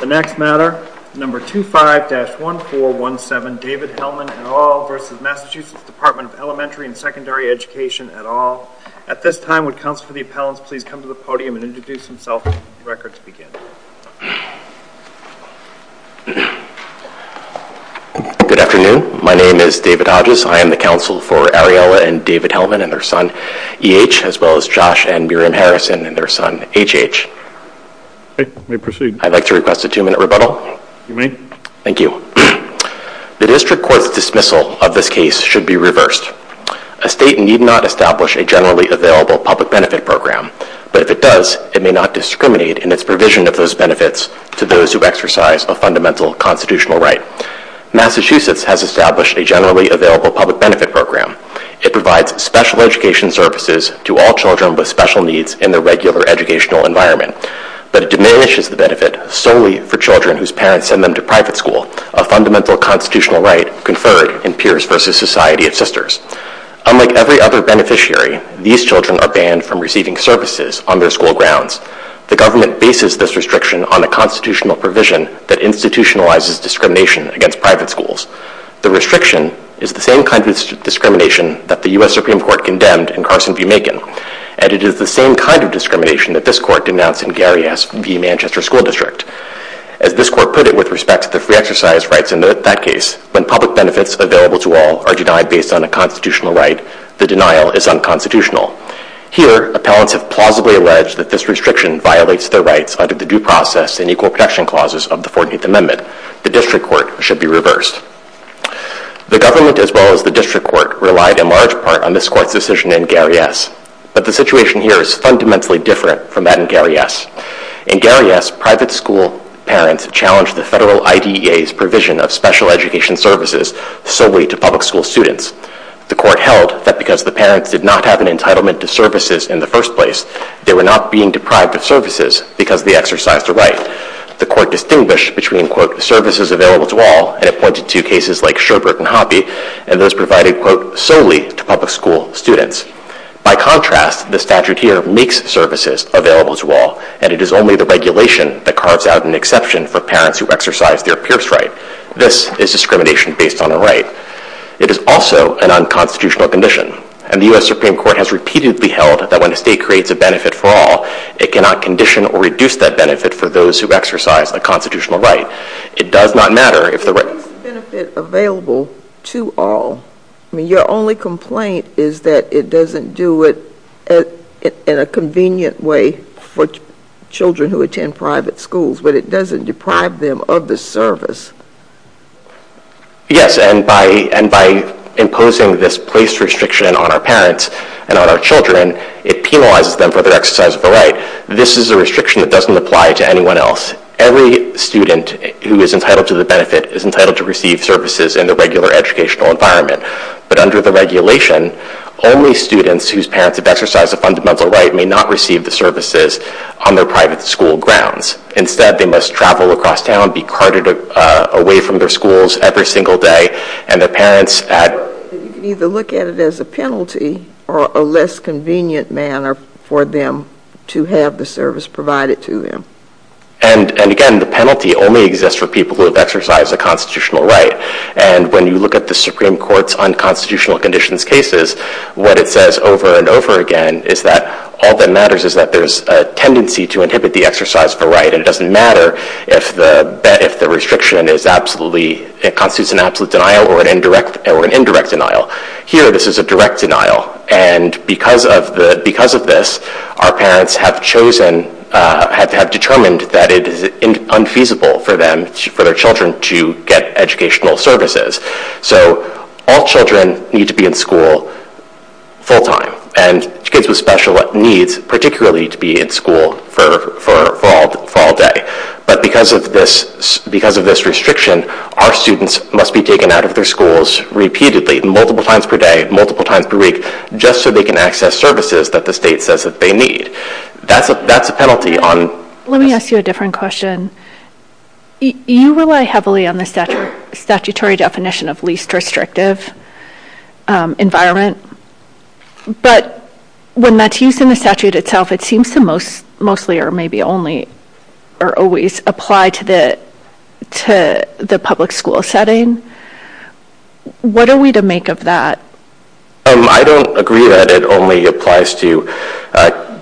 The next matter, number 25-1417, David Hellman et al. v. Mass Dep't of Elementary and Secondary Education et al. At this time, would counsel for the appellants please come to the podium and introduce themselves and the record speak in. Good afternoon, my name is David Hodges, I am the counsel for Ariella and David Hellman and their son E.H. as well as Josh and Miriam Harrison and their son H.H. I'd like to request a two minute rebuttal. You may. Thank you. The district court's dismissal of this case should be reversed. A state need not establish a generally available public benefit program, but if it does, it may not discriminate in its provision of those benefits to those who exercise a fundamental constitutional right. Massachusetts has established a generally available public benefit program. It provides special education services to all children with special needs in their regular educational environment, but it diminishes the benefit solely for children whose parents send them to private school, a fundamental constitutional right conferred in Peers versus Society of Sisters. Unlike every other beneficiary, these children are banned from receiving services on their school grounds. The government bases this restriction on a constitutional provision that institutionalizes discrimination against private schools. The restriction is the same kind of discrimination that the U.S. Supreme Court condemned in Carson discrimination that this court denounced in Gary S. v. Manchester School District. As this court put it with respect to the free exercise rights in that case, when public benefits available to all are denied based on a constitutional right, the denial is unconstitutional. Here appellants have plausibly alleged that this restriction violates their rights under the due process and equal protection clauses of the 14th Amendment. The district court should be reversed. The government as well as the district court relied in large part on this court's decision in Gary S., but the situation here is fundamentally different from that in Gary S. In Gary S., private school parents challenged the federal IDEA's provision of special education services solely to public school students. The court held that because the parents did not have an entitlement to services in the first place, they were not being deprived of services because of the exercise to right. The court distinguished between, quote, services available to all, and it pointed to cases like Schubert and Hoppe, and those provided, quote, solely to public school students. By contrast, the statute here makes services available to all, and it is only the regulation that carves out an exception for parents who exercise their peer's right. This is discrimination based on a right. It is also an unconstitutional condition, and the U.S. Supreme Court has repeatedly held that when a state creates a benefit for all, it cannot condition or reduce that benefit for those who exercise a constitutional right. It does not matter if the right... If it makes the benefit available to all, I mean, your only complaint is that it doesn't do it in a convenient way for children who attend private schools, but it doesn't deprive them of the service. Yes, and by imposing this place restriction on our parents and on our children, it penalizes them for their exercise of the right. This is a restriction that doesn't apply to anyone else. Every student who is entitled to the benefit is entitled to receive services in the regular educational environment, but under the regulation, only students whose parents have exercised a fundamental right may not receive the services on their private school grounds. Instead, they must travel across town, be carted away from their schools every single day, and their parents... You can either look at it as a penalty or a less convenient manner for them to have the service provided to them. And again, the penalty only exists for people who have exercised a constitutional right. And when you look at the Supreme Court's unconstitutional conditions cases, what it says over and over again is that all that matters is that there's a tendency to inhibit the exercise of the right and it doesn't matter if the restriction is absolutely... It constitutes an absolute denial or an indirect denial. Here this is a direct denial. And because of this, our parents have chosen... Have determined that it is unfeasible for their children to get educational services. So all children need to be in school full-time and kids with special needs particularly to be in school for all day. But because of this restriction, our students must be taken out of their schools repeatedly, multiple times per day, multiple times per week, just so they can access services that the state says that they need. That's a penalty on... Let me ask you a different question. You rely heavily on the statutory definition of least restrictive environment, but when that's used in the statute itself, it seems to mostly or maybe only or always apply to the public school setting. What are we to make of that? I don't agree that it only applies to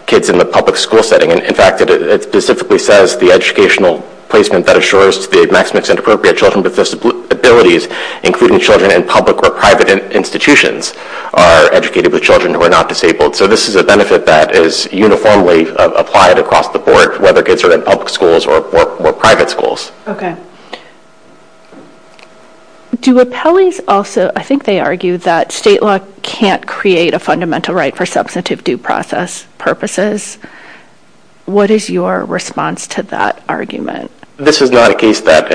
kids in the public school setting. In fact, it specifically says the educational placement that assures the maximum appropriate children with disabilities, including children in public or private institutions, are educated with children who are not disabled. So this is a benefit that is uniformly applied across the board, whether kids are in public schools or private schools. Do appellees also... I think they argue that state law can't create a fundamental right for substantive due process purposes. What is your response to that argument? This is not a case that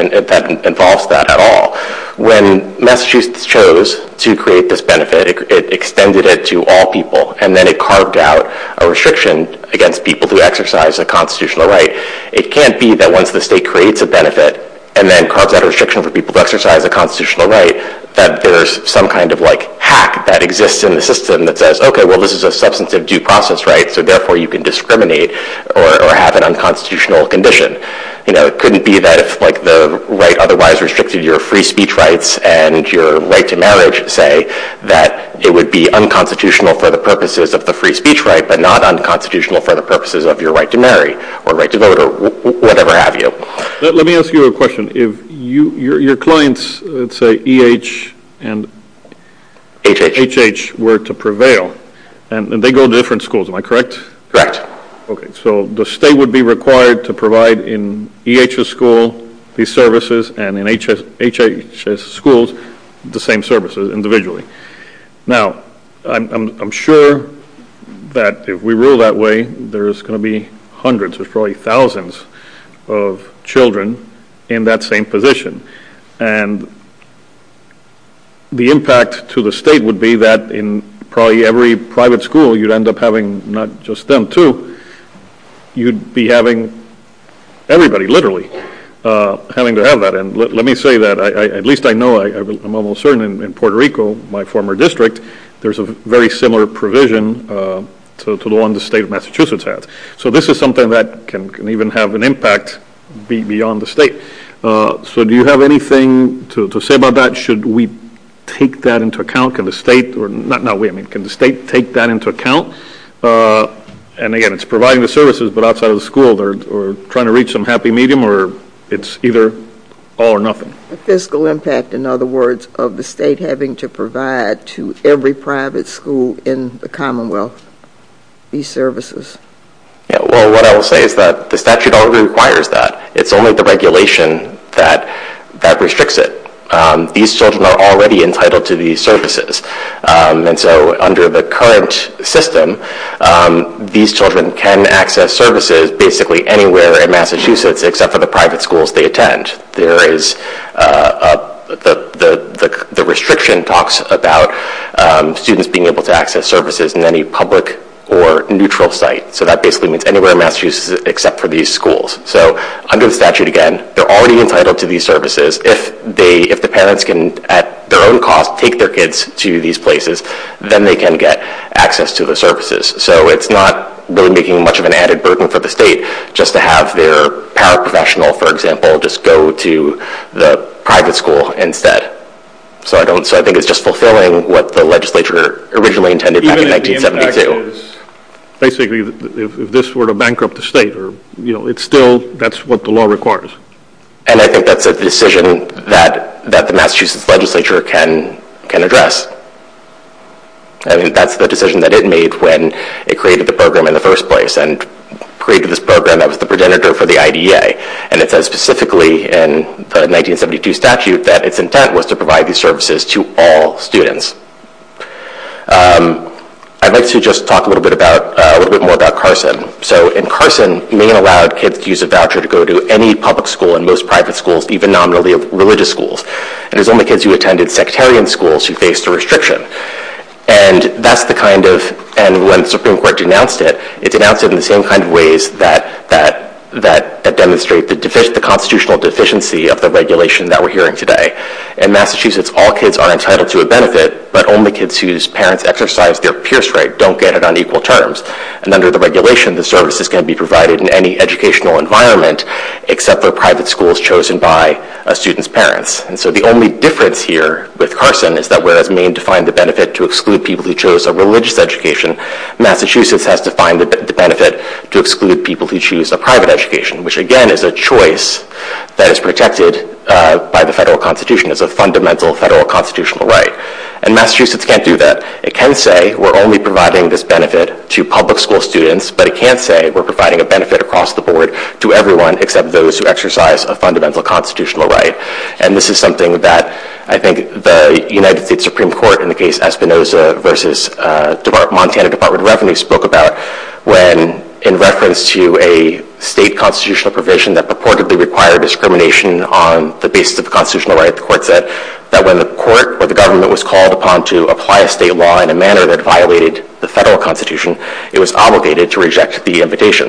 involves that at all. When Massachusetts chose to create this benefit, it extended it to all people and then it carved out a restriction against people who exercise a constitutional right. It can't be that once the state creates a benefit and then carves out a restriction for people to exercise a constitutional right, that there's some kind of hack that exists in the system that says, okay, well, this is a substantive due process right, so therefore you can discriminate or have an unconstitutional condition. It couldn't be that if the right otherwise restricted your free speech rights and your right to marriage, say, that it would be unconstitutional for the purposes of the free speech right, but not unconstitutional for the purposes of your right to marry or right to vote or whatever have you. Let me ask you a question. Your clients, let's say, E.H. and H.H. were to prevail and they go to different schools, am I correct? Correct. Okay, so the state would be required to provide in E.H.'s school these services and in H.H.'s schools the same services individually. Now, I'm sure that if we rule that way, there's going to be hundreds, there's probably thousands of children in that same position and the impact to the state would be that in probably every private school, you'd end up having not just them too, you'd be having everybody literally having to have that and let me say that, at least I know, I'm almost certain in Puerto Rico, my former district, there's a very similar provision to the one the state of Massachusetts has. So this is something that can even have an impact beyond the state. So do you have anything to say about that? Should we take that into account? Can the state or, no, wait a minute, can the state take that into account? And again, it's providing the services, but outside of the school they're trying to reach some happy medium or it's either all or nothing. The fiscal impact, in other words, of the state having to provide to every private school in the commonwealth these services? Well, what I will say is that the statute already requires that. It's only the regulation that restricts it. These children are already entitled to these services and so under the current system, these children can access services basically anywhere in Massachusetts except for the private schools they attend. There is the restriction talks about students being able to access services in any public or neutral site. So that basically means anywhere in Massachusetts except for these schools. So under the statute, again, they're already entitled to these services. If the parents can, at their own cost, take their kids to these places, then they can get access to the services. So it's not really making much of an added burden for the state just to have their paraprofessional, for example, just go to the private school instead. So I think it's just fulfilling what the legislature originally intended back in 1972. Even if the impact is basically if this were to bankrupt the state, it's still... That's what the law requires. And I think that's a decision that the Massachusetts legislature can address. That's the decision that it made when it created the program in the first place and created this program that was the progenitor for the IDA. And it says specifically in the 1972 statute that its intent was to provide these services to all students. I'd like to just talk a little bit more about Carson. So in Carson, Maine allowed kids to use a voucher to go to any public school and most private schools, even nominally religious schools. And it was only kids who attended sectarian schools who faced a restriction. And that's the kind of... And when the Supreme Court denounced it, it denounced it in the same kind of ways that demonstrate the constitutional deficiency of the regulation that we're hearing today. In Massachusetts, all kids are entitled to a benefit, but only kids whose parents exercised their peer strike don't get it on equal terms. And under the regulation, the services can be provided in any educational environment except for private schools chosen by a student's parents. And so the only difference here with Carson is that whereas Maine defined the benefit to exclude people who chose a religious education, Massachusetts has defined the benefit to exclude people who choose a private education, which again is a choice that is protected by the federal constitution. It's a fundamental federal constitutional right. And Massachusetts can't do that. It can say we're only providing this benefit to public school students, but it can't say we're providing a benefit across the board to everyone except those who exercise a fundamental constitutional right. And this is something that I think the United States Supreme Court in the case Espinoza versus Montana Department of Revenue spoke about when in reference to a state constitutional provision that purportedly required discrimination on the basis of constitutional right, the court said that when the court or the government was called upon to apply a state law in a manner that violated the federal constitution, it was obligated to reject the invitation.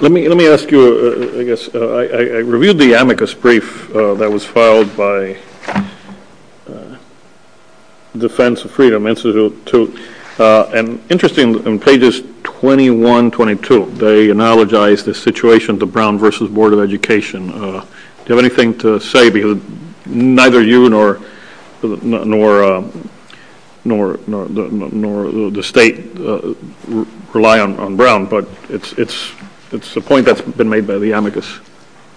Let me ask you, I guess, I reviewed the amicus brief that was filed by the Defense of Freedom Institute and interesting on pages 21, 22, they analogize the situation of the Brown versus Board of Education. Do you have anything to say because neither you nor the State Department or the State rely on Brown, but it's a point that's been made by the amicus.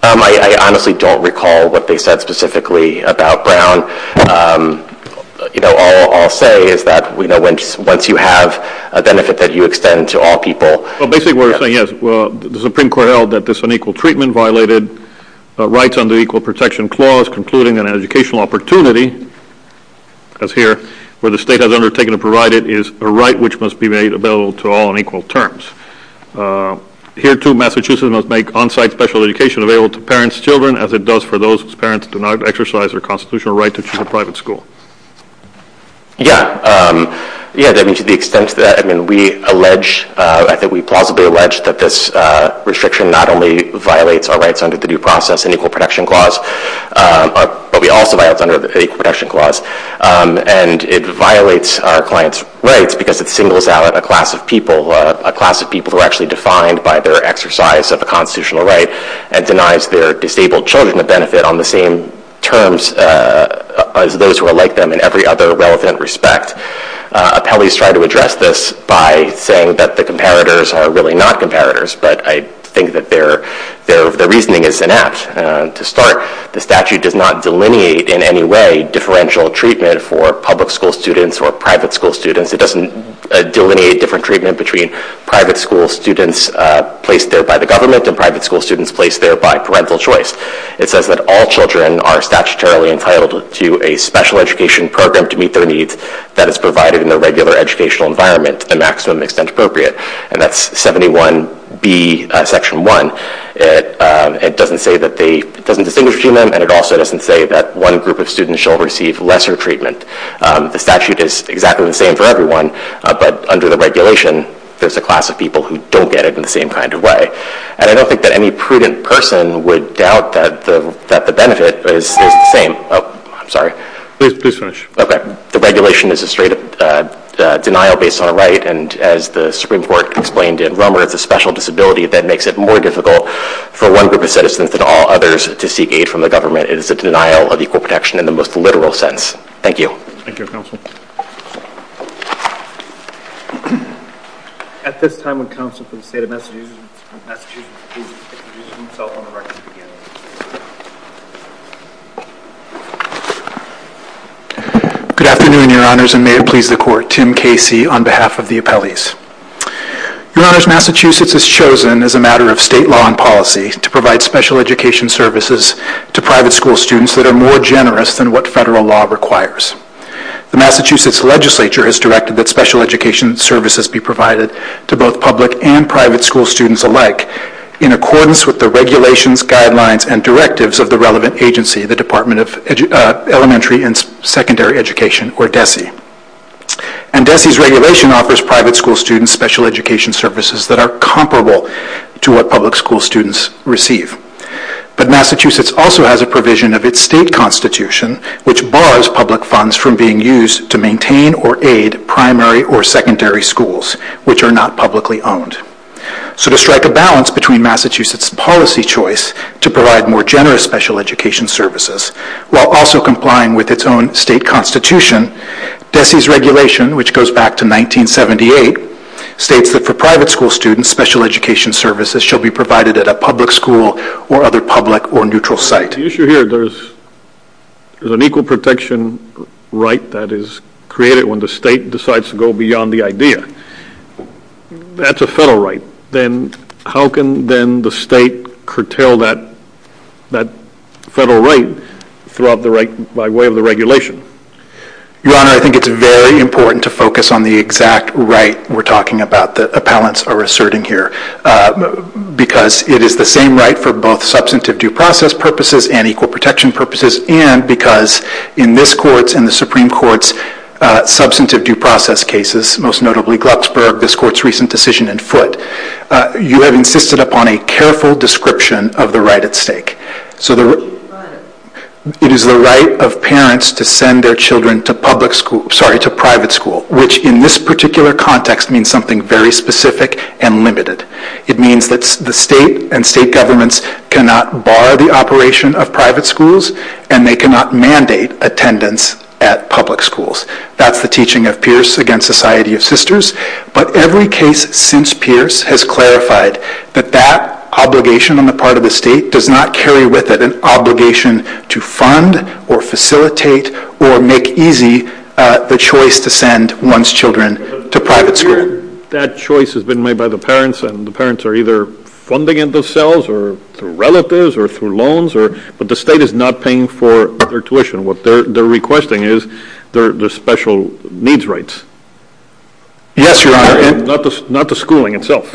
I honestly don't recall what they said specifically about Brown. All I'll say is that once you have a benefit that you extend to all people... Well, basically what you're saying is the Supreme Court held that this unequal treatment violated rights under the Equal Protection Clause concluding that an educational opportunity as here, where the state has undertaken to provide it is a right which must be made available to all on equal terms. Here too Massachusetts must make on-site special education available to parents and children as it does for those whose parents do not exercise their constitutional right to choose a private school. Yeah, to the extent that we allege, I think we plausibly allege that this restriction not only violates our rights under the Due Process and Equal Protection Clause, but we also violate it under the Equal Protection Clause. And it violates our client's rights because it singles out a class of people, a class of people who are actually defined by their exercise of a constitutional right and denies their disabled children the benefit on the same terms as those who are like them in every other relevant respect. Appellees try to address this by saying that the comparators are really not comparators, but I think that their reasoning is inept. To start, the statute does not delineate in any way differential treatment for public school students or private school students. It doesn't delineate different treatment between private school students placed there by the government and private school students placed there by parental choice. It says that all children are statutorily entitled to a special education program to meet their needs that is provided in their regular educational environment to the maximum extent appropriate. And that's 71B section 1. It doesn't distinguish between them, and it also doesn't say that one group of students shall receive lesser treatment. The statute is exactly the same for everyone, but under the regulation, there's a class of people who don't get it in the same kind of way. And I don't think that any prudent person would doubt that the benefit is the same. Oh, I'm sorry. Please finish. Okay. The regulation is a straight denial based on a right, and as the Supreme Court explained in Rummer, it's a special disability that makes it more difficult for one group of citizens than all others to seek aid from the government. It is a denial of equal protection in the most literal sense. Thank you. Thank you, counsel. At this time, would counsel from the state of Massachusetts please introduce himself on the record again. Good afternoon, your honors, and may it please the court. Tim Casey on behalf of the appellees. Your honors, Massachusetts has chosen as a matter of state law and policy to provide special education services to private school students that are more generous than what federal law requires. The Massachusetts legislature has directed that special education services be provided to both public and private school students alike in accordance with the regulations, guidelines, and directives of the relevant agency, the Department of Elementary and Secondary Education, or DESE. And DESE's regulation offers private school students special education services that are comparable to what public school students receive. But Massachusetts also has a provision of its state constitution which bars public funds from being used to maintain or aid primary or secondary schools, which are not publicly owned. So to strike a balance between Massachusetts' policy choice to provide more generous special education services while also complying with its own state constitution, DESE's regulation, which goes back to 1978, states that for private school students, special education services shall be provided at a public school or other public or neutral site. The issue here, there's an equal protection right that is created when the state decides to go beyond the idea. That's a federal right. Then how can then the state curtail that federal right by way of the regulation? Your Honor, I think it's very important to focus on the exact right we're talking about that appellants are asserting here. Because it is the same right for both substantive due process purposes and equal protection purposes and because in this court's and the Supreme Court's substantive due process cases, most notably Glucksburg, this court's recent decision in foot, you have insisted upon a careful description of the right at stake. So it is the right of parents to send their children to private school, which in this particular context means something very specific and limited. It means that the state and state governments cannot bar the operation of private schools and they cannot mandate attendance at public schools. That's the teaching of Pierce against Society of Sisters. But every case since Pierce has clarified that that obligation on the part of the state does not carry with it an obligation to fund or facilitate or make easy the choice to send one's children to private school. That choice has been made by the parents and the parents are either funding it themselves or through relatives or through loans, but the state is not paying for their tuition. What they're requesting is their special needs rights. Yes, Your Honor. Not the schooling itself.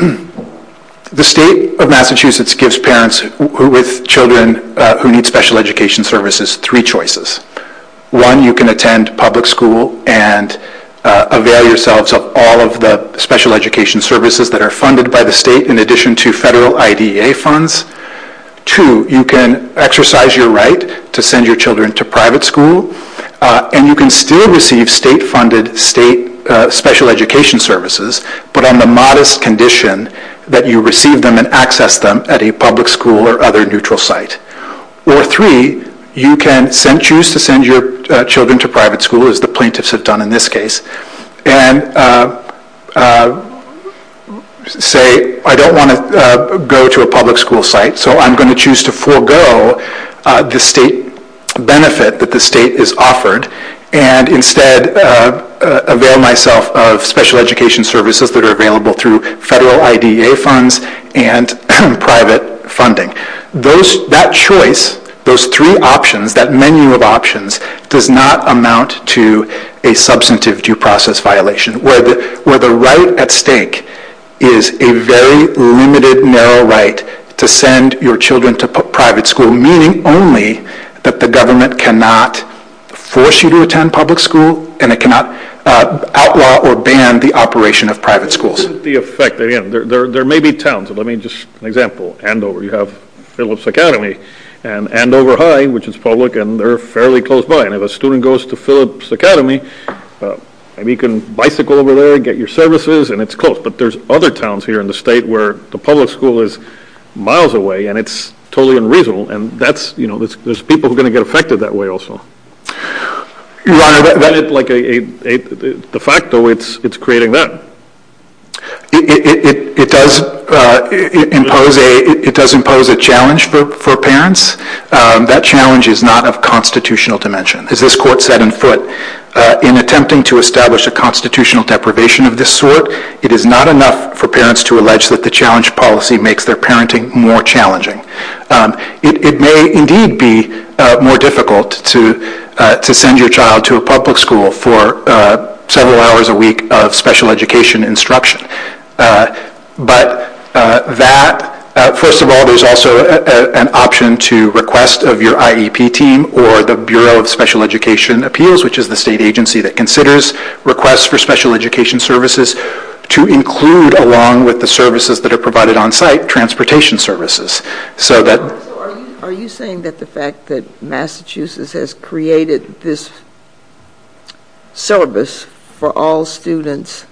The state of Massachusetts gives parents with children who need special education services three choices. One, you can attend public school and avail yourselves of all of the special education services that are funded by the state in addition to federal IDEA funds. Two, you can exercise your right to send your children to private school and you can still receive state funded state special education services, but on the modest condition that you receive them and access them at a public school or other neutral site. Or three, you can choose to send your children to private school, as the plaintiffs have done in this case, and say, I don't want to go to a public school so I'm not going to choose to go to a neutral site so I'm going to choose to forego the state benefit that the state has offered and instead avail myself of special education services that are available through federal IDEA funds and private funding. That choice, those three options, that menu of options, does not amount to a substantive due process violation where the right at stake is a very limited, narrow right to send your children to private school, meaning only that the government cannot force you to attend public school and it cannot outlaw or ban the operation of private schools. The effect, again, there may be towns, let me just, an example, Andover, you have Phillips Academy and Andover High, which is public, and they're fairly close by and if a student goes to Phillips Academy, maybe you can bicycle over there and get your services and it's close. But there's other towns here in the state where the public school is miles away and it's totally unreasonable and that's, you know, there's people who are going to get affected that way also. Your Honor, that is like a de facto, it's creating that. It does impose a challenge for parents. That challenge is not of constitutional dimension. As this court said in foot, in attempting to establish a constitutional deprivation of this sort, it is not enough for parents to allege that the challenge policy makes their parenting more challenging. It may indeed be more difficult to send your child to a public school for several hours a week of special education instruction. But that, first of all, there's also an option to request of your IEP team or the Bureau of Special Education Appeals, which is the state agency that considers requests for special education services, to include along with the services that are provided on site, transportation services. So that... So are you saying that the fact that Massachusetts has created this service for all students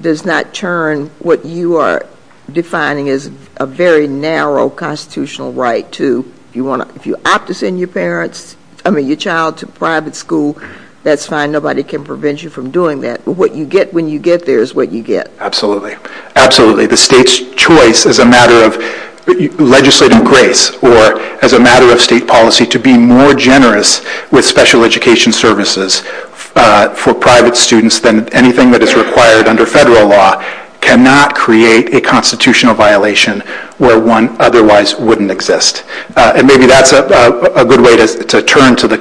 does not turn what you are defining as a very narrow constitutional right to, if you opt to send your parents, I mean your child to private school, that's fine, nobody can prevent you from doing that. But what you get when you get there is what you get. Absolutely. Absolutely. The state's choice as a matter of legislative grace or as a matter of state policy to be more generous with special education services for private students than anything that is required under federal law cannot create a constitutional violation where one otherwise wouldn't exist. And maybe that's a good way to turn to the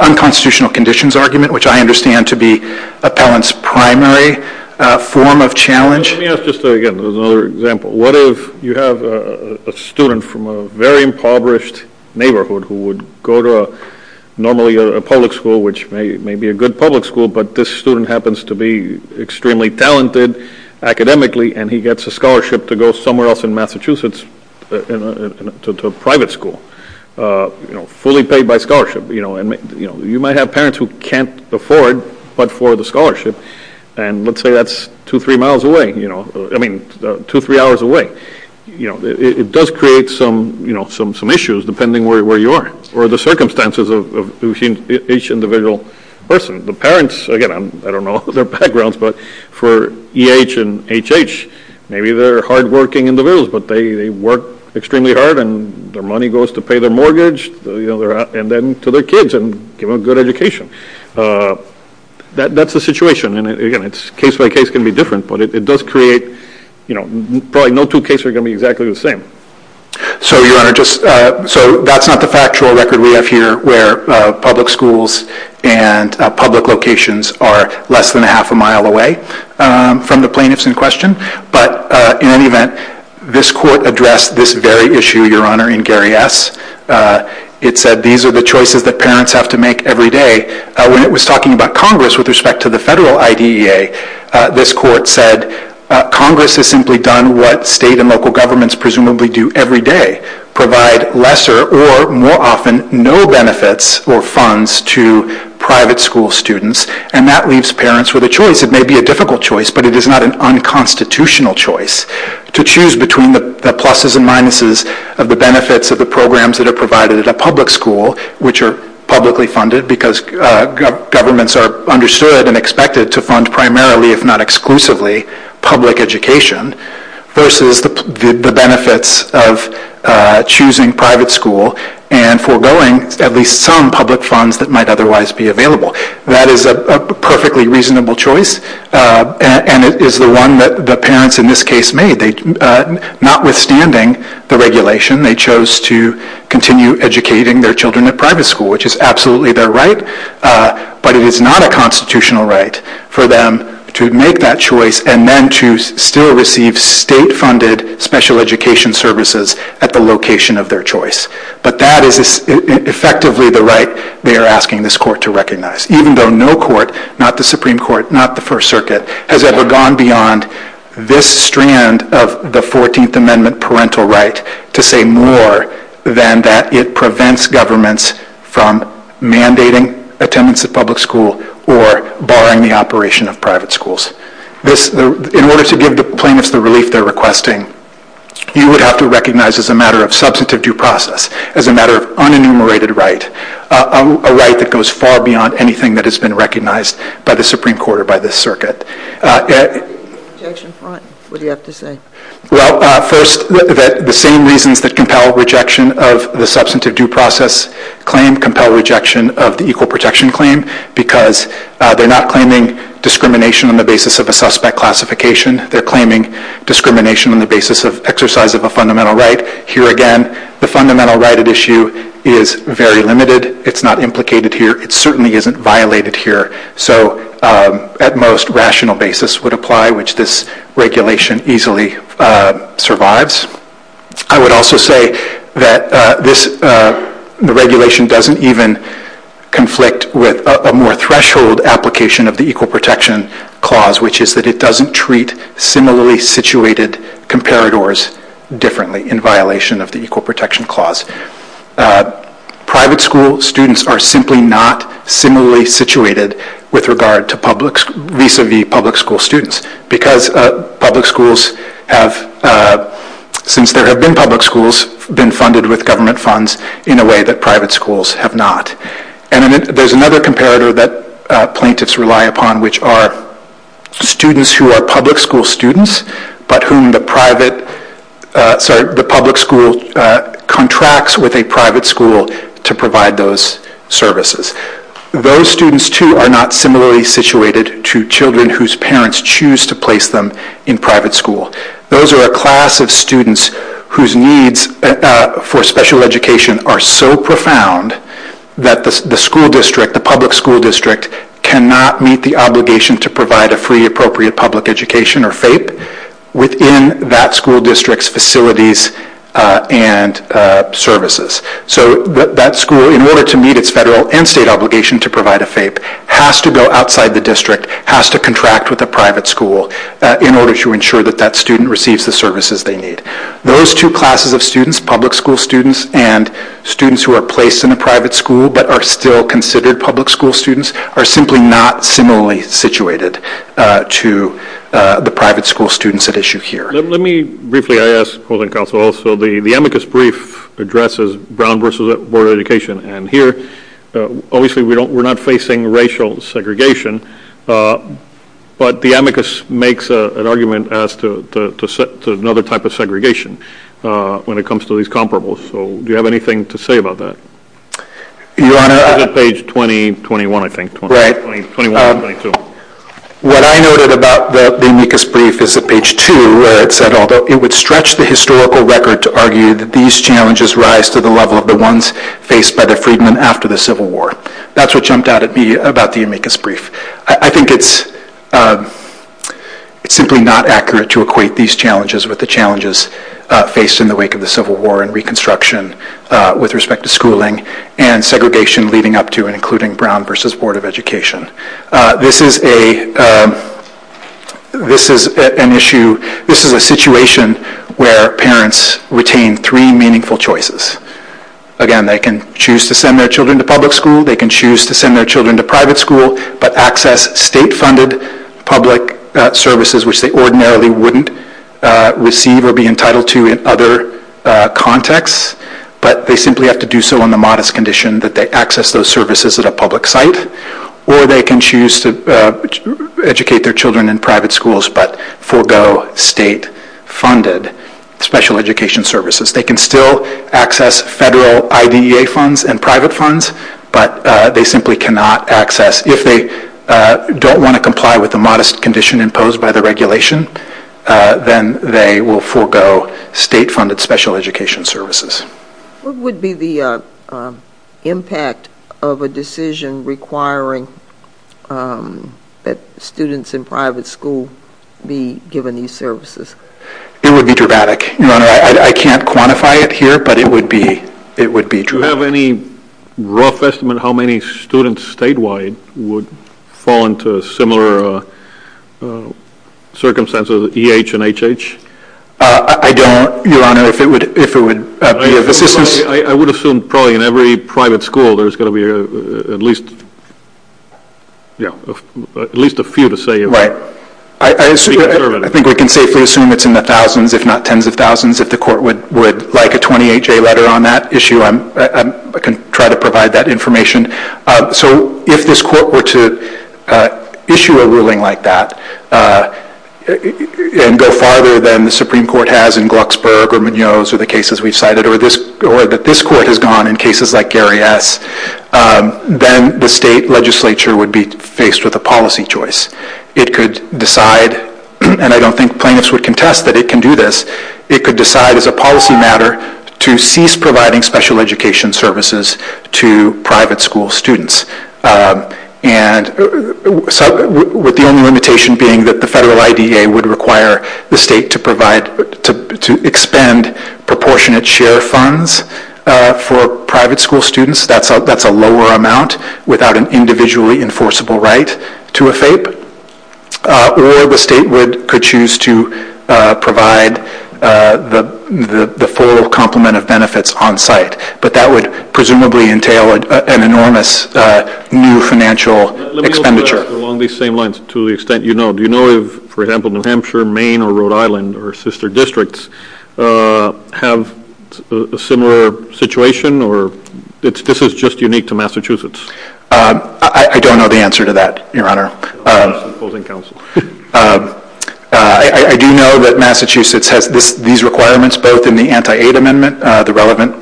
unconstitutional conditions argument, which I understand to be appellant's primary form of challenge. Let me ask just again, another example. What if you have a student from a very impoverished neighborhood who would go to normally a public school, which may be a good public school, but this student happens to be extremely talented academically and he gets a scholarship to go somewhere else in Massachusetts to a private school, you know, fully paid by scholarship. You might have parents who can't afford but for the scholarship, and let's say that's two, three miles away, I mean two, three hours away. It does create some issues depending on where you are or the circumstances of each individual person. The parents, again, I don't know their backgrounds, but for EH and HH, maybe they're hardworking individuals but they work extremely hard and their money goes to pay their mortgage and then to their kids and give them a good education. That's the situation. And again, it's case by case can be different, but it does create, you know, probably no two cases are going to be exactly the same. So Your Honor, just, so that's not the factual record we have here where public schools and public locations are less than a half a mile away from the plaintiffs in question. But in any event, this court addressed this very issue, Your Honor, in Gary S. It said these are the choices that parents have to make every day. When it was talking about Congress with respect to the federal IDEA, this court said Congress has simply done what state and local governments presumably do every day, provide lesser or more often no benefits or funds to private school students, and that leaves parents with a choice. It may be a difficult choice, but it is not an unconstitutional choice to choose between the pluses and minuses of the benefits of the programs that are provided at a public school, which are publicly funded because governments are understood and expected to fund primarily, if not exclusively, public education, versus the benefits of choosing private school and foregoing at least some public funds that might otherwise be available. That is a perfectly reasonable choice, and it is the one that the parents in this case made. Notwithstanding the regulation, they chose to continue educating their children at private school, which is absolutely their right, but it is not a constitutional right for them to make that choice and then to still receive state-funded special education services at the location of their choice. But that is effectively the right they are asking this court to recognize, even though no court, not the Supreme Court, not the First Circuit, has ever gone beyond this strand of the 14th Amendment parental right to say more than that it prevents governments from mandating attendance at public school or barring the operation of private schools. In order to give the plaintiffs the relief they are requesting, you would have to recognize as a matter of substantive due process, as a matter of unenumerated right, a right that goes far beyond anything that has been recognized by the Supreme Court or by this circuit. First, the same reasons that compel rejection of the substantive due process claim compel rejection of the equal protection claim, because they are not claiming discrimination on the basis of a suspect classification, they are claiming discrimination on the basis of exercise of a fundamental right. Here again, the fundamental right at issue is very limited. It's not implicated here. It certainly isn't violated here. So at most, rational basis would apply, which this regulation easily survives. I would also say that this regulation doesn't even conflict with a more threshold application of the equal protection clause, which is that it doesn't treat similarly situated comparators differently in violation of the equal protection clause. Private school students are simply not similarly situated with regard to public, vis-a-vis public school students, because public schools have, since there have been public schools, been funded with government funds in a way that private schools have not. And there's another comparator that plaintiffs rely upon, which are students who are public school contracts with a private school to provide those services. Those students, too, are not similarly situated to children whose parents choose to place them in private school. Those are a class of students whose needs for special education are so profound that the school district, the public school district, cannot meet the obligation to provide a free appropriate public education, or FAPE, within that school district's facilities and services. So that school, in order to meet its federal and state obligation to provide a FAPE, has to go outside the district, has to contract with a private school in order to ensure that that student receives the services they need. Those two classes of students, public school students and students who are placed in a private school but are still considered public school students, are simply not similarly situated to the private school students at issue here. Let me briefly, I ask holding counsel also, the amicus brief addresses Brown versus Board of Education, and here, obviously we're not facing racial segregation, but the amicus makes an argument as to another type of segregation when it comes to these comparables. So do you have anything to say about that? Your Honor... Is it page 20, 21, I think. Right. What I noted about the amicus brief is at page 2, where it said, although it would stretch the historical record to argue that these challenges rise to the level of the ones faced by the freedmen after the Civil War. That's what jumped out at me about the amicus brief. I think it's simply not accurate to equate these challenges with the challenges faced in the wake of the Civil War and Reconstruction with respect to schooling and segregation leading up to and including Brown versus Board of Education. This is an issue, this is a situation where parents retain three meaningful choices. Again, they can choose to send their children to public school, they can choose to send their children to private school, but access state-funded public services which they ordinarily wouldn't receive or be entitled to in other contexts, but they simply have to do so on the modest condition that they access those services at a public site, or they can choose to educate their children in private schools but forego state-funded special education services. They can still access federal IDEA funds and private funds, but they simply cannot access if they don't want to comply with the modest condition imposed by the regulation, then they will forego state-funded special education services. What would be the impact of a decision requiring that students in private school be given these services? It would be dramatic. Your Honor, I can't quantify it here, but it would be dramatic. Do you have any rough estimate how many students statewide would fall into similar circumstances as EH and HH? I don't, Your Honor. I don't know if it would be of assistance. I would assume probably in every private school there's going to be at least a few to say if they're conservative. I think we can safely assume it's in the thousands, if not tens of thousands, if the court would like a 28-J letter on that issue. I can try to provide that information. So if this court were to issue a ruling like that and go farther than the Supreme Court has in Glucksburg or Munoz or the cases we've cited, or that this court has gone in cases like Gary S., then the state legislature would be faced with a policy choice. It could decide, and I don't think plaintiffs would contest that it can do this, it could decide as a policy matter to cease providing special education services to private school students, with the only limitation being that the federal IDEA would require the state to provide, to expend proportionate share funds for private school students. That's a lower amount without an individually enforceable right to a FAPE. Or the state could choose to provide the full complement of benefits on site. But that would presumably entail an enormous new financial expenditure. Let me ask along these same lines. To the extent you know. Do you know if, for example, New Hampshire, Maine, or Rhode Island, or sister districts have a similar situation, or this is just unique to Massachusetts? I don't know the answer to that, Your Honor. Opposing counsel. I do know that Massachusetts has these requirements both in the Anti-Aid Amendment, the relevant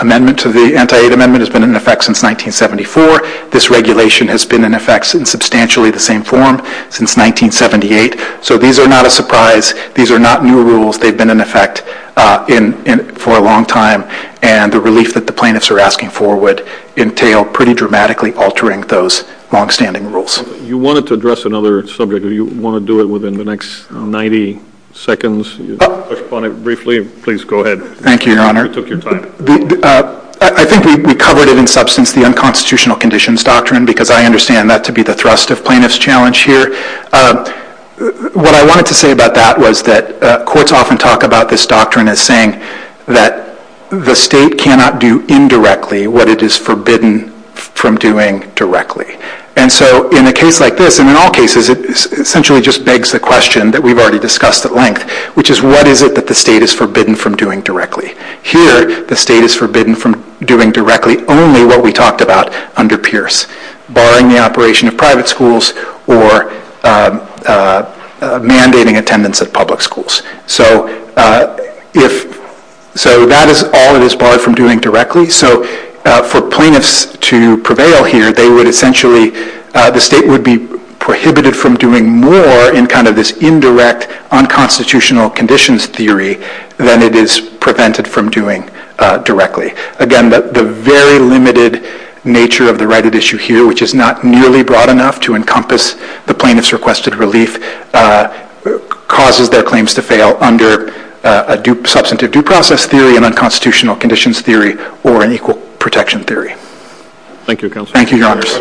amendment to the Anti-Aid Amendment has been in effect since 1974. This regulation has been in effect in substantially the same form since 1978. So these are not a surprise. These are not new rules. They've been in effect for a long time. And the relief that the plaintiffs are asking for would entail pretty dramatically altering those longstanding rules. You wanted to address another subject. Do you want to do it within the next 90 seconds, respond briefly? Please go ahead. Thank you, Your Honor. You took your time. I think we covered it in substance, the Unconstitutional Conditions Doctrine, because I understand that to be the thrust of plaintiff's challenge here. What I wanted to say about that was that courts often talk about this doctrine as saying that the state cannot do indirectly what it is forbidden from doing directly. And so in a case like this, and in all cases, it essentially just begs the question that we've already discussed at length, which is what is it that the state is forbidden from doing directly? Here, the state is forbidden from doing directly only what we talked about under Pierce, barring the operation of private schools or mandating attendance at public schools. So that is all it is barred from doing directly. So for plaintiffs to prevail here, they would essentially, the state would be prohibited from doing more in this indirect unconstitutional conditions theory than it is prevented from doing directly. Again, the very limited nature of the right at issue here, which is not nearly broad enough to encompass the plaintiff's requested relief, causes their claims to fail under a substantive due process theory, an unconstitutional conditions theory, or an equal protection theory. Thank you, Counsel. Thank you, Your Honors.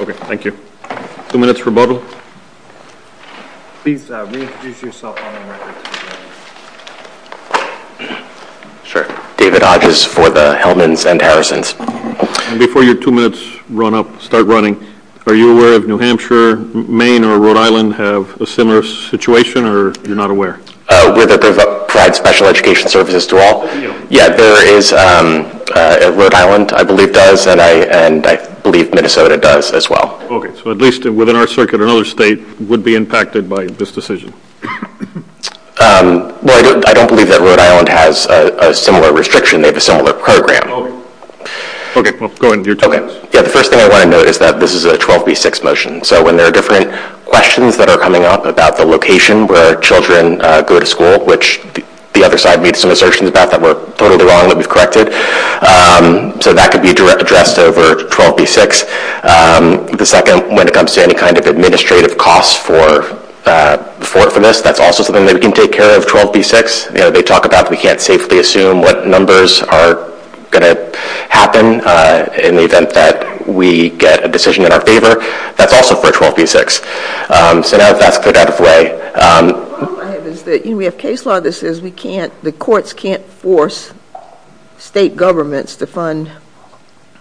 Okay, thank you. Thank you. Two minutes rebuttal. Please reintroduce yourself on the record, please, Your Honors. Sure. David Hodges for the Hellman's and Harrison's. And before your two minutes run up, start running, are you aware of New Hampshire, Maine, or Rhode Island have a similar situation, or you're not aware? We're there to provide special education services to all. Yeah, there is. Rhode Island, I believe, does, and I believe Minnesota does as well. Okay, so at least within our circuit, another state would be impacted by this decision. Well, I don't believe that Rhode Island has a similar restriction, they have a similar program. Okay, well, go ahead with your two minutes. Yeah, the first thing I want to note is that this is a 12B6 motion, so when there are different questions that are coming up about the location where children go to school, which the other side made some assertions about that were totally wrong that we've corrected, so that could be addressed over 12B6. The second, when it comes to any kind of administrative costs for this, that's also something that we can take care of, 12B6. They talk about that we can't safely assume what numbers are going to happen in the event that we get a decision in our favor, that's also for 12B6. So now that that's cleared out of the way. The problem I have is that we have case law that says the courts can't force state governments to fund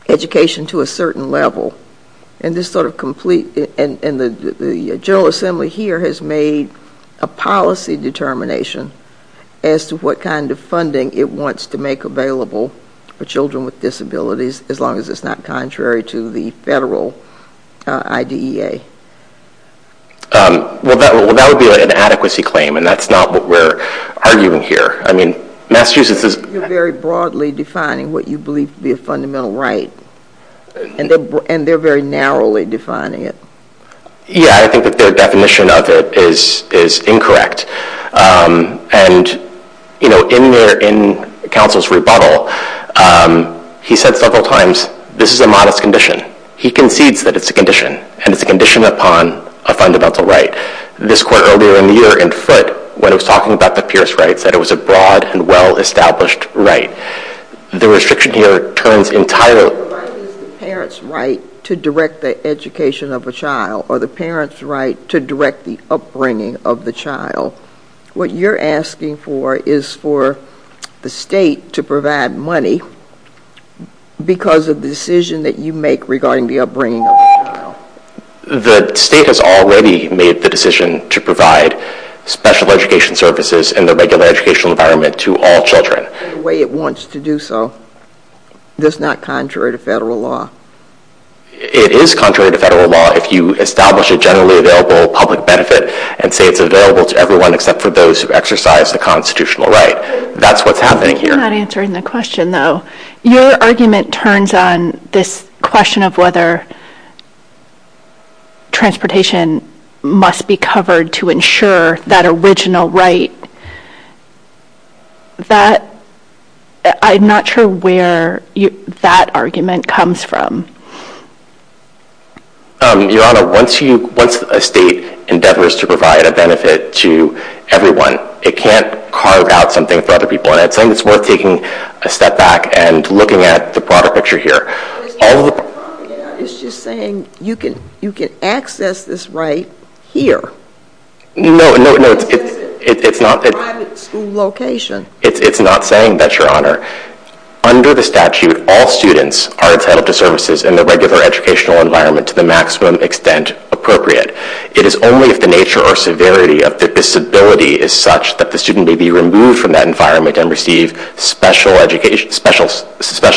education to a certain level, and the General Assembly here has made a policy determination as to what kind of funding it wants to make available for children with disabilities, as long as it's not contrary to the federal IDEA. Well, that would be an inadequacy claim, and that's not what we're arguing here. I mean, Massachusetts is... You're very broadly defining what you believe to be a fundamental right, and they're very narrowly defining it. Yeah, I think that their definition of it is incorrect. And, you know, in Council's rebuttal, he said several times, this is a modest condition. He concedes that it's a condition, and it's a condition upon a fundamental right. This court earlier in the year in Foote, when it was talking about the Pierce rights, said it was a broad and well-established right. The restriction here turns entirely... The right is the parent's right to direct the education of a child, or the parent's right to direct the upbringing of the child. What you're asking for is for the state to provide money because of the decision that you make regarding the upbringing of the child. The state has already made the decision to provide special education services in the regular educational environment to all children. The way it wants to do so is not contrary to federal law. It is contrary to federal law if you establish a generally available public benefit and say it's available to everyone except for those who exercise the constitutional right. That's what's happening here. You're not answering the question, though. Your argument turns on this question of whether transportation must be covered to ensure that original right. I'm not sure where that argument comes from. Your Honor, once a state endeavors to provide a benefit to everyone, it can't carve out something for other people. It's something that's worth taking a step back and looking at the broader picture here. It's just saying you can access this right here. No, it's not. It's a private school location. It's not saying that, Your Honor. Under the statute, all students are entitled to services in the regular educational environment to the maximum extent appropriate. It is only if the nature or severity of the disability is such that the student may be able to go out of their regular educational environment and receive special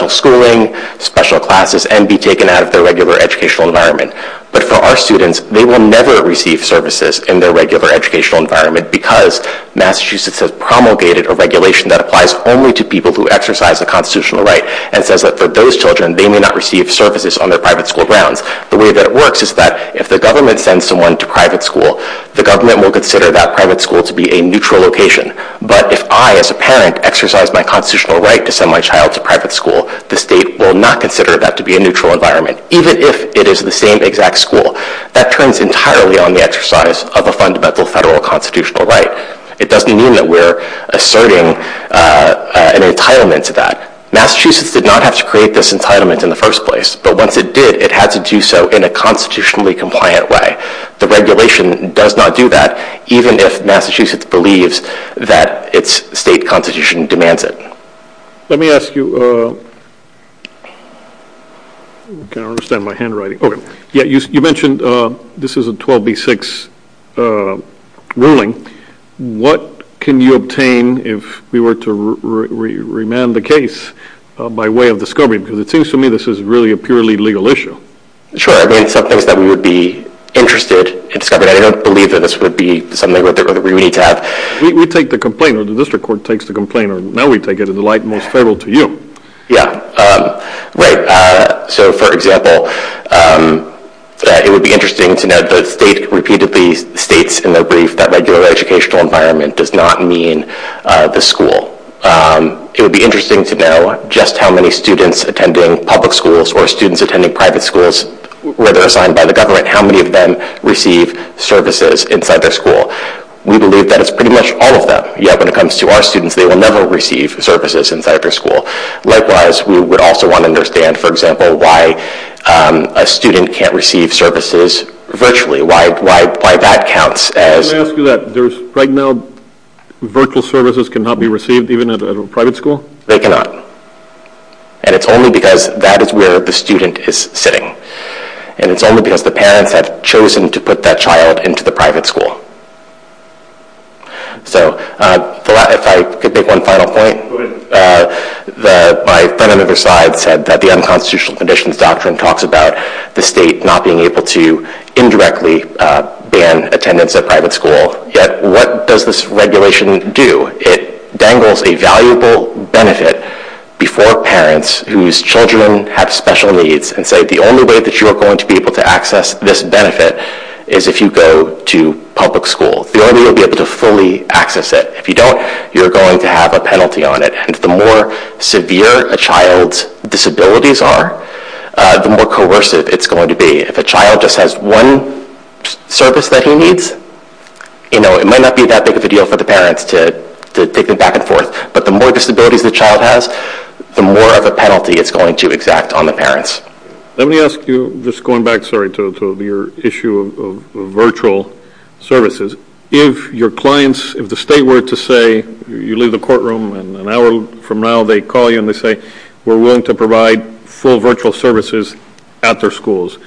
schooling, special classes, and be taken out of their regular educational environment. But for our students, they will never receive services in their regular educational environment because Massachusetts has promulgated a regulation that applies only to people who exercise a constitutional right and says that for those children, they may not receive services on their private school grounds. The way that it works is that if the government sends someone to private school, the government will consider that private school to be a neutral location. But if I, as a parent, exercise my constitutional right to send my child to private school, the state will not consider that to be a neutral environment, even if it is the same exact school. That turns entirely on the exercise of a fundamental federal constitutional right. It doesn't mean that we're asserting an entitlement to that. Massachusetts did not have to create this entitlement in the first place, but once it did, it had to do so in a constitutionally compliant way. The regulation does not do that, even if Massachusetts believes that its state constitution demands it. Let me ask you, I don't understand my handwriting, you mentioned this is a 12B6 ruling, what can you obtain if we were to remand the case by way of discovery? Because it seems to me this is really a purely legal issue. Sure, I mean some things that we would be interested in discovering, I don't believe that this would be something that we need to have. We take the complaint, or the district court takes the complaint, or now we take it in the light most federal to you. Yeah, right, so for example, it would be interesting to know that the state repeatedly states in their brief that regular educational environment does not mean the school. It would be interesting to know just how many students attending public schools or students attending private schools, where they're assigned by the government, how many of them receive services inside their school. We believe that it's pretty much all of them, yet when it comes to our students, they will never receive services inside their school. Likewise, we would also want to understand, for example, why a student can't receive services virtually, why that counts as... Let me ask you that, there's right now virtual services cannot be received even at a private school? They cannot. And it's only because that is where the student is sitting. And it's only because the parents have chosen to put that child into the private school. So, if I could make one final point, my friend on the other side said that the Unconstitutional Conditions Doctrine talks about the state not being able to indirectly ban attendance at private school, yet what does this regulation do? It dangles a valuable benefit before parents whose children have special needs and say the only way that you are going to be able to access this benefit is if you go to public school. The only way you'll be able to fully access it. If you don't, you're going to have a penalty on it. And the more severe a child's disabilities are, the more coercive it's going to be. If a child just has one service that he needs, you know, it might not be that big of a deal for the parents to take them back and forth. But the more disabilities the child has, the more of a penalty it's going to exact on the parents. Let me ask you, just going back, sorry, to your issue of virtual services. If your clients, if the state were to say, you leave the courtroom and an hour from now they call you and they say, we're willing to provide full virtual services at their schools,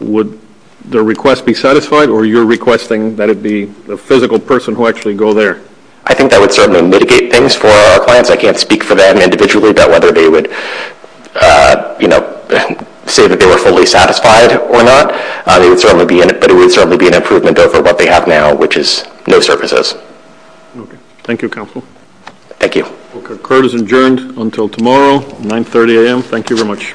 would the request be satisfied? Or you're requesting that it be a physical person who actually go there? I think that would certainly mitigate things for our clients. I can't speak for them individually about whether they would, you know, say that they were fully satisfied or not. But it would certainly be an improvement over what they have now, which is no services. Thank you, Counsel. Thank you. Court is adjourned until tomorrow, 9.30 a.m. Thank you very much.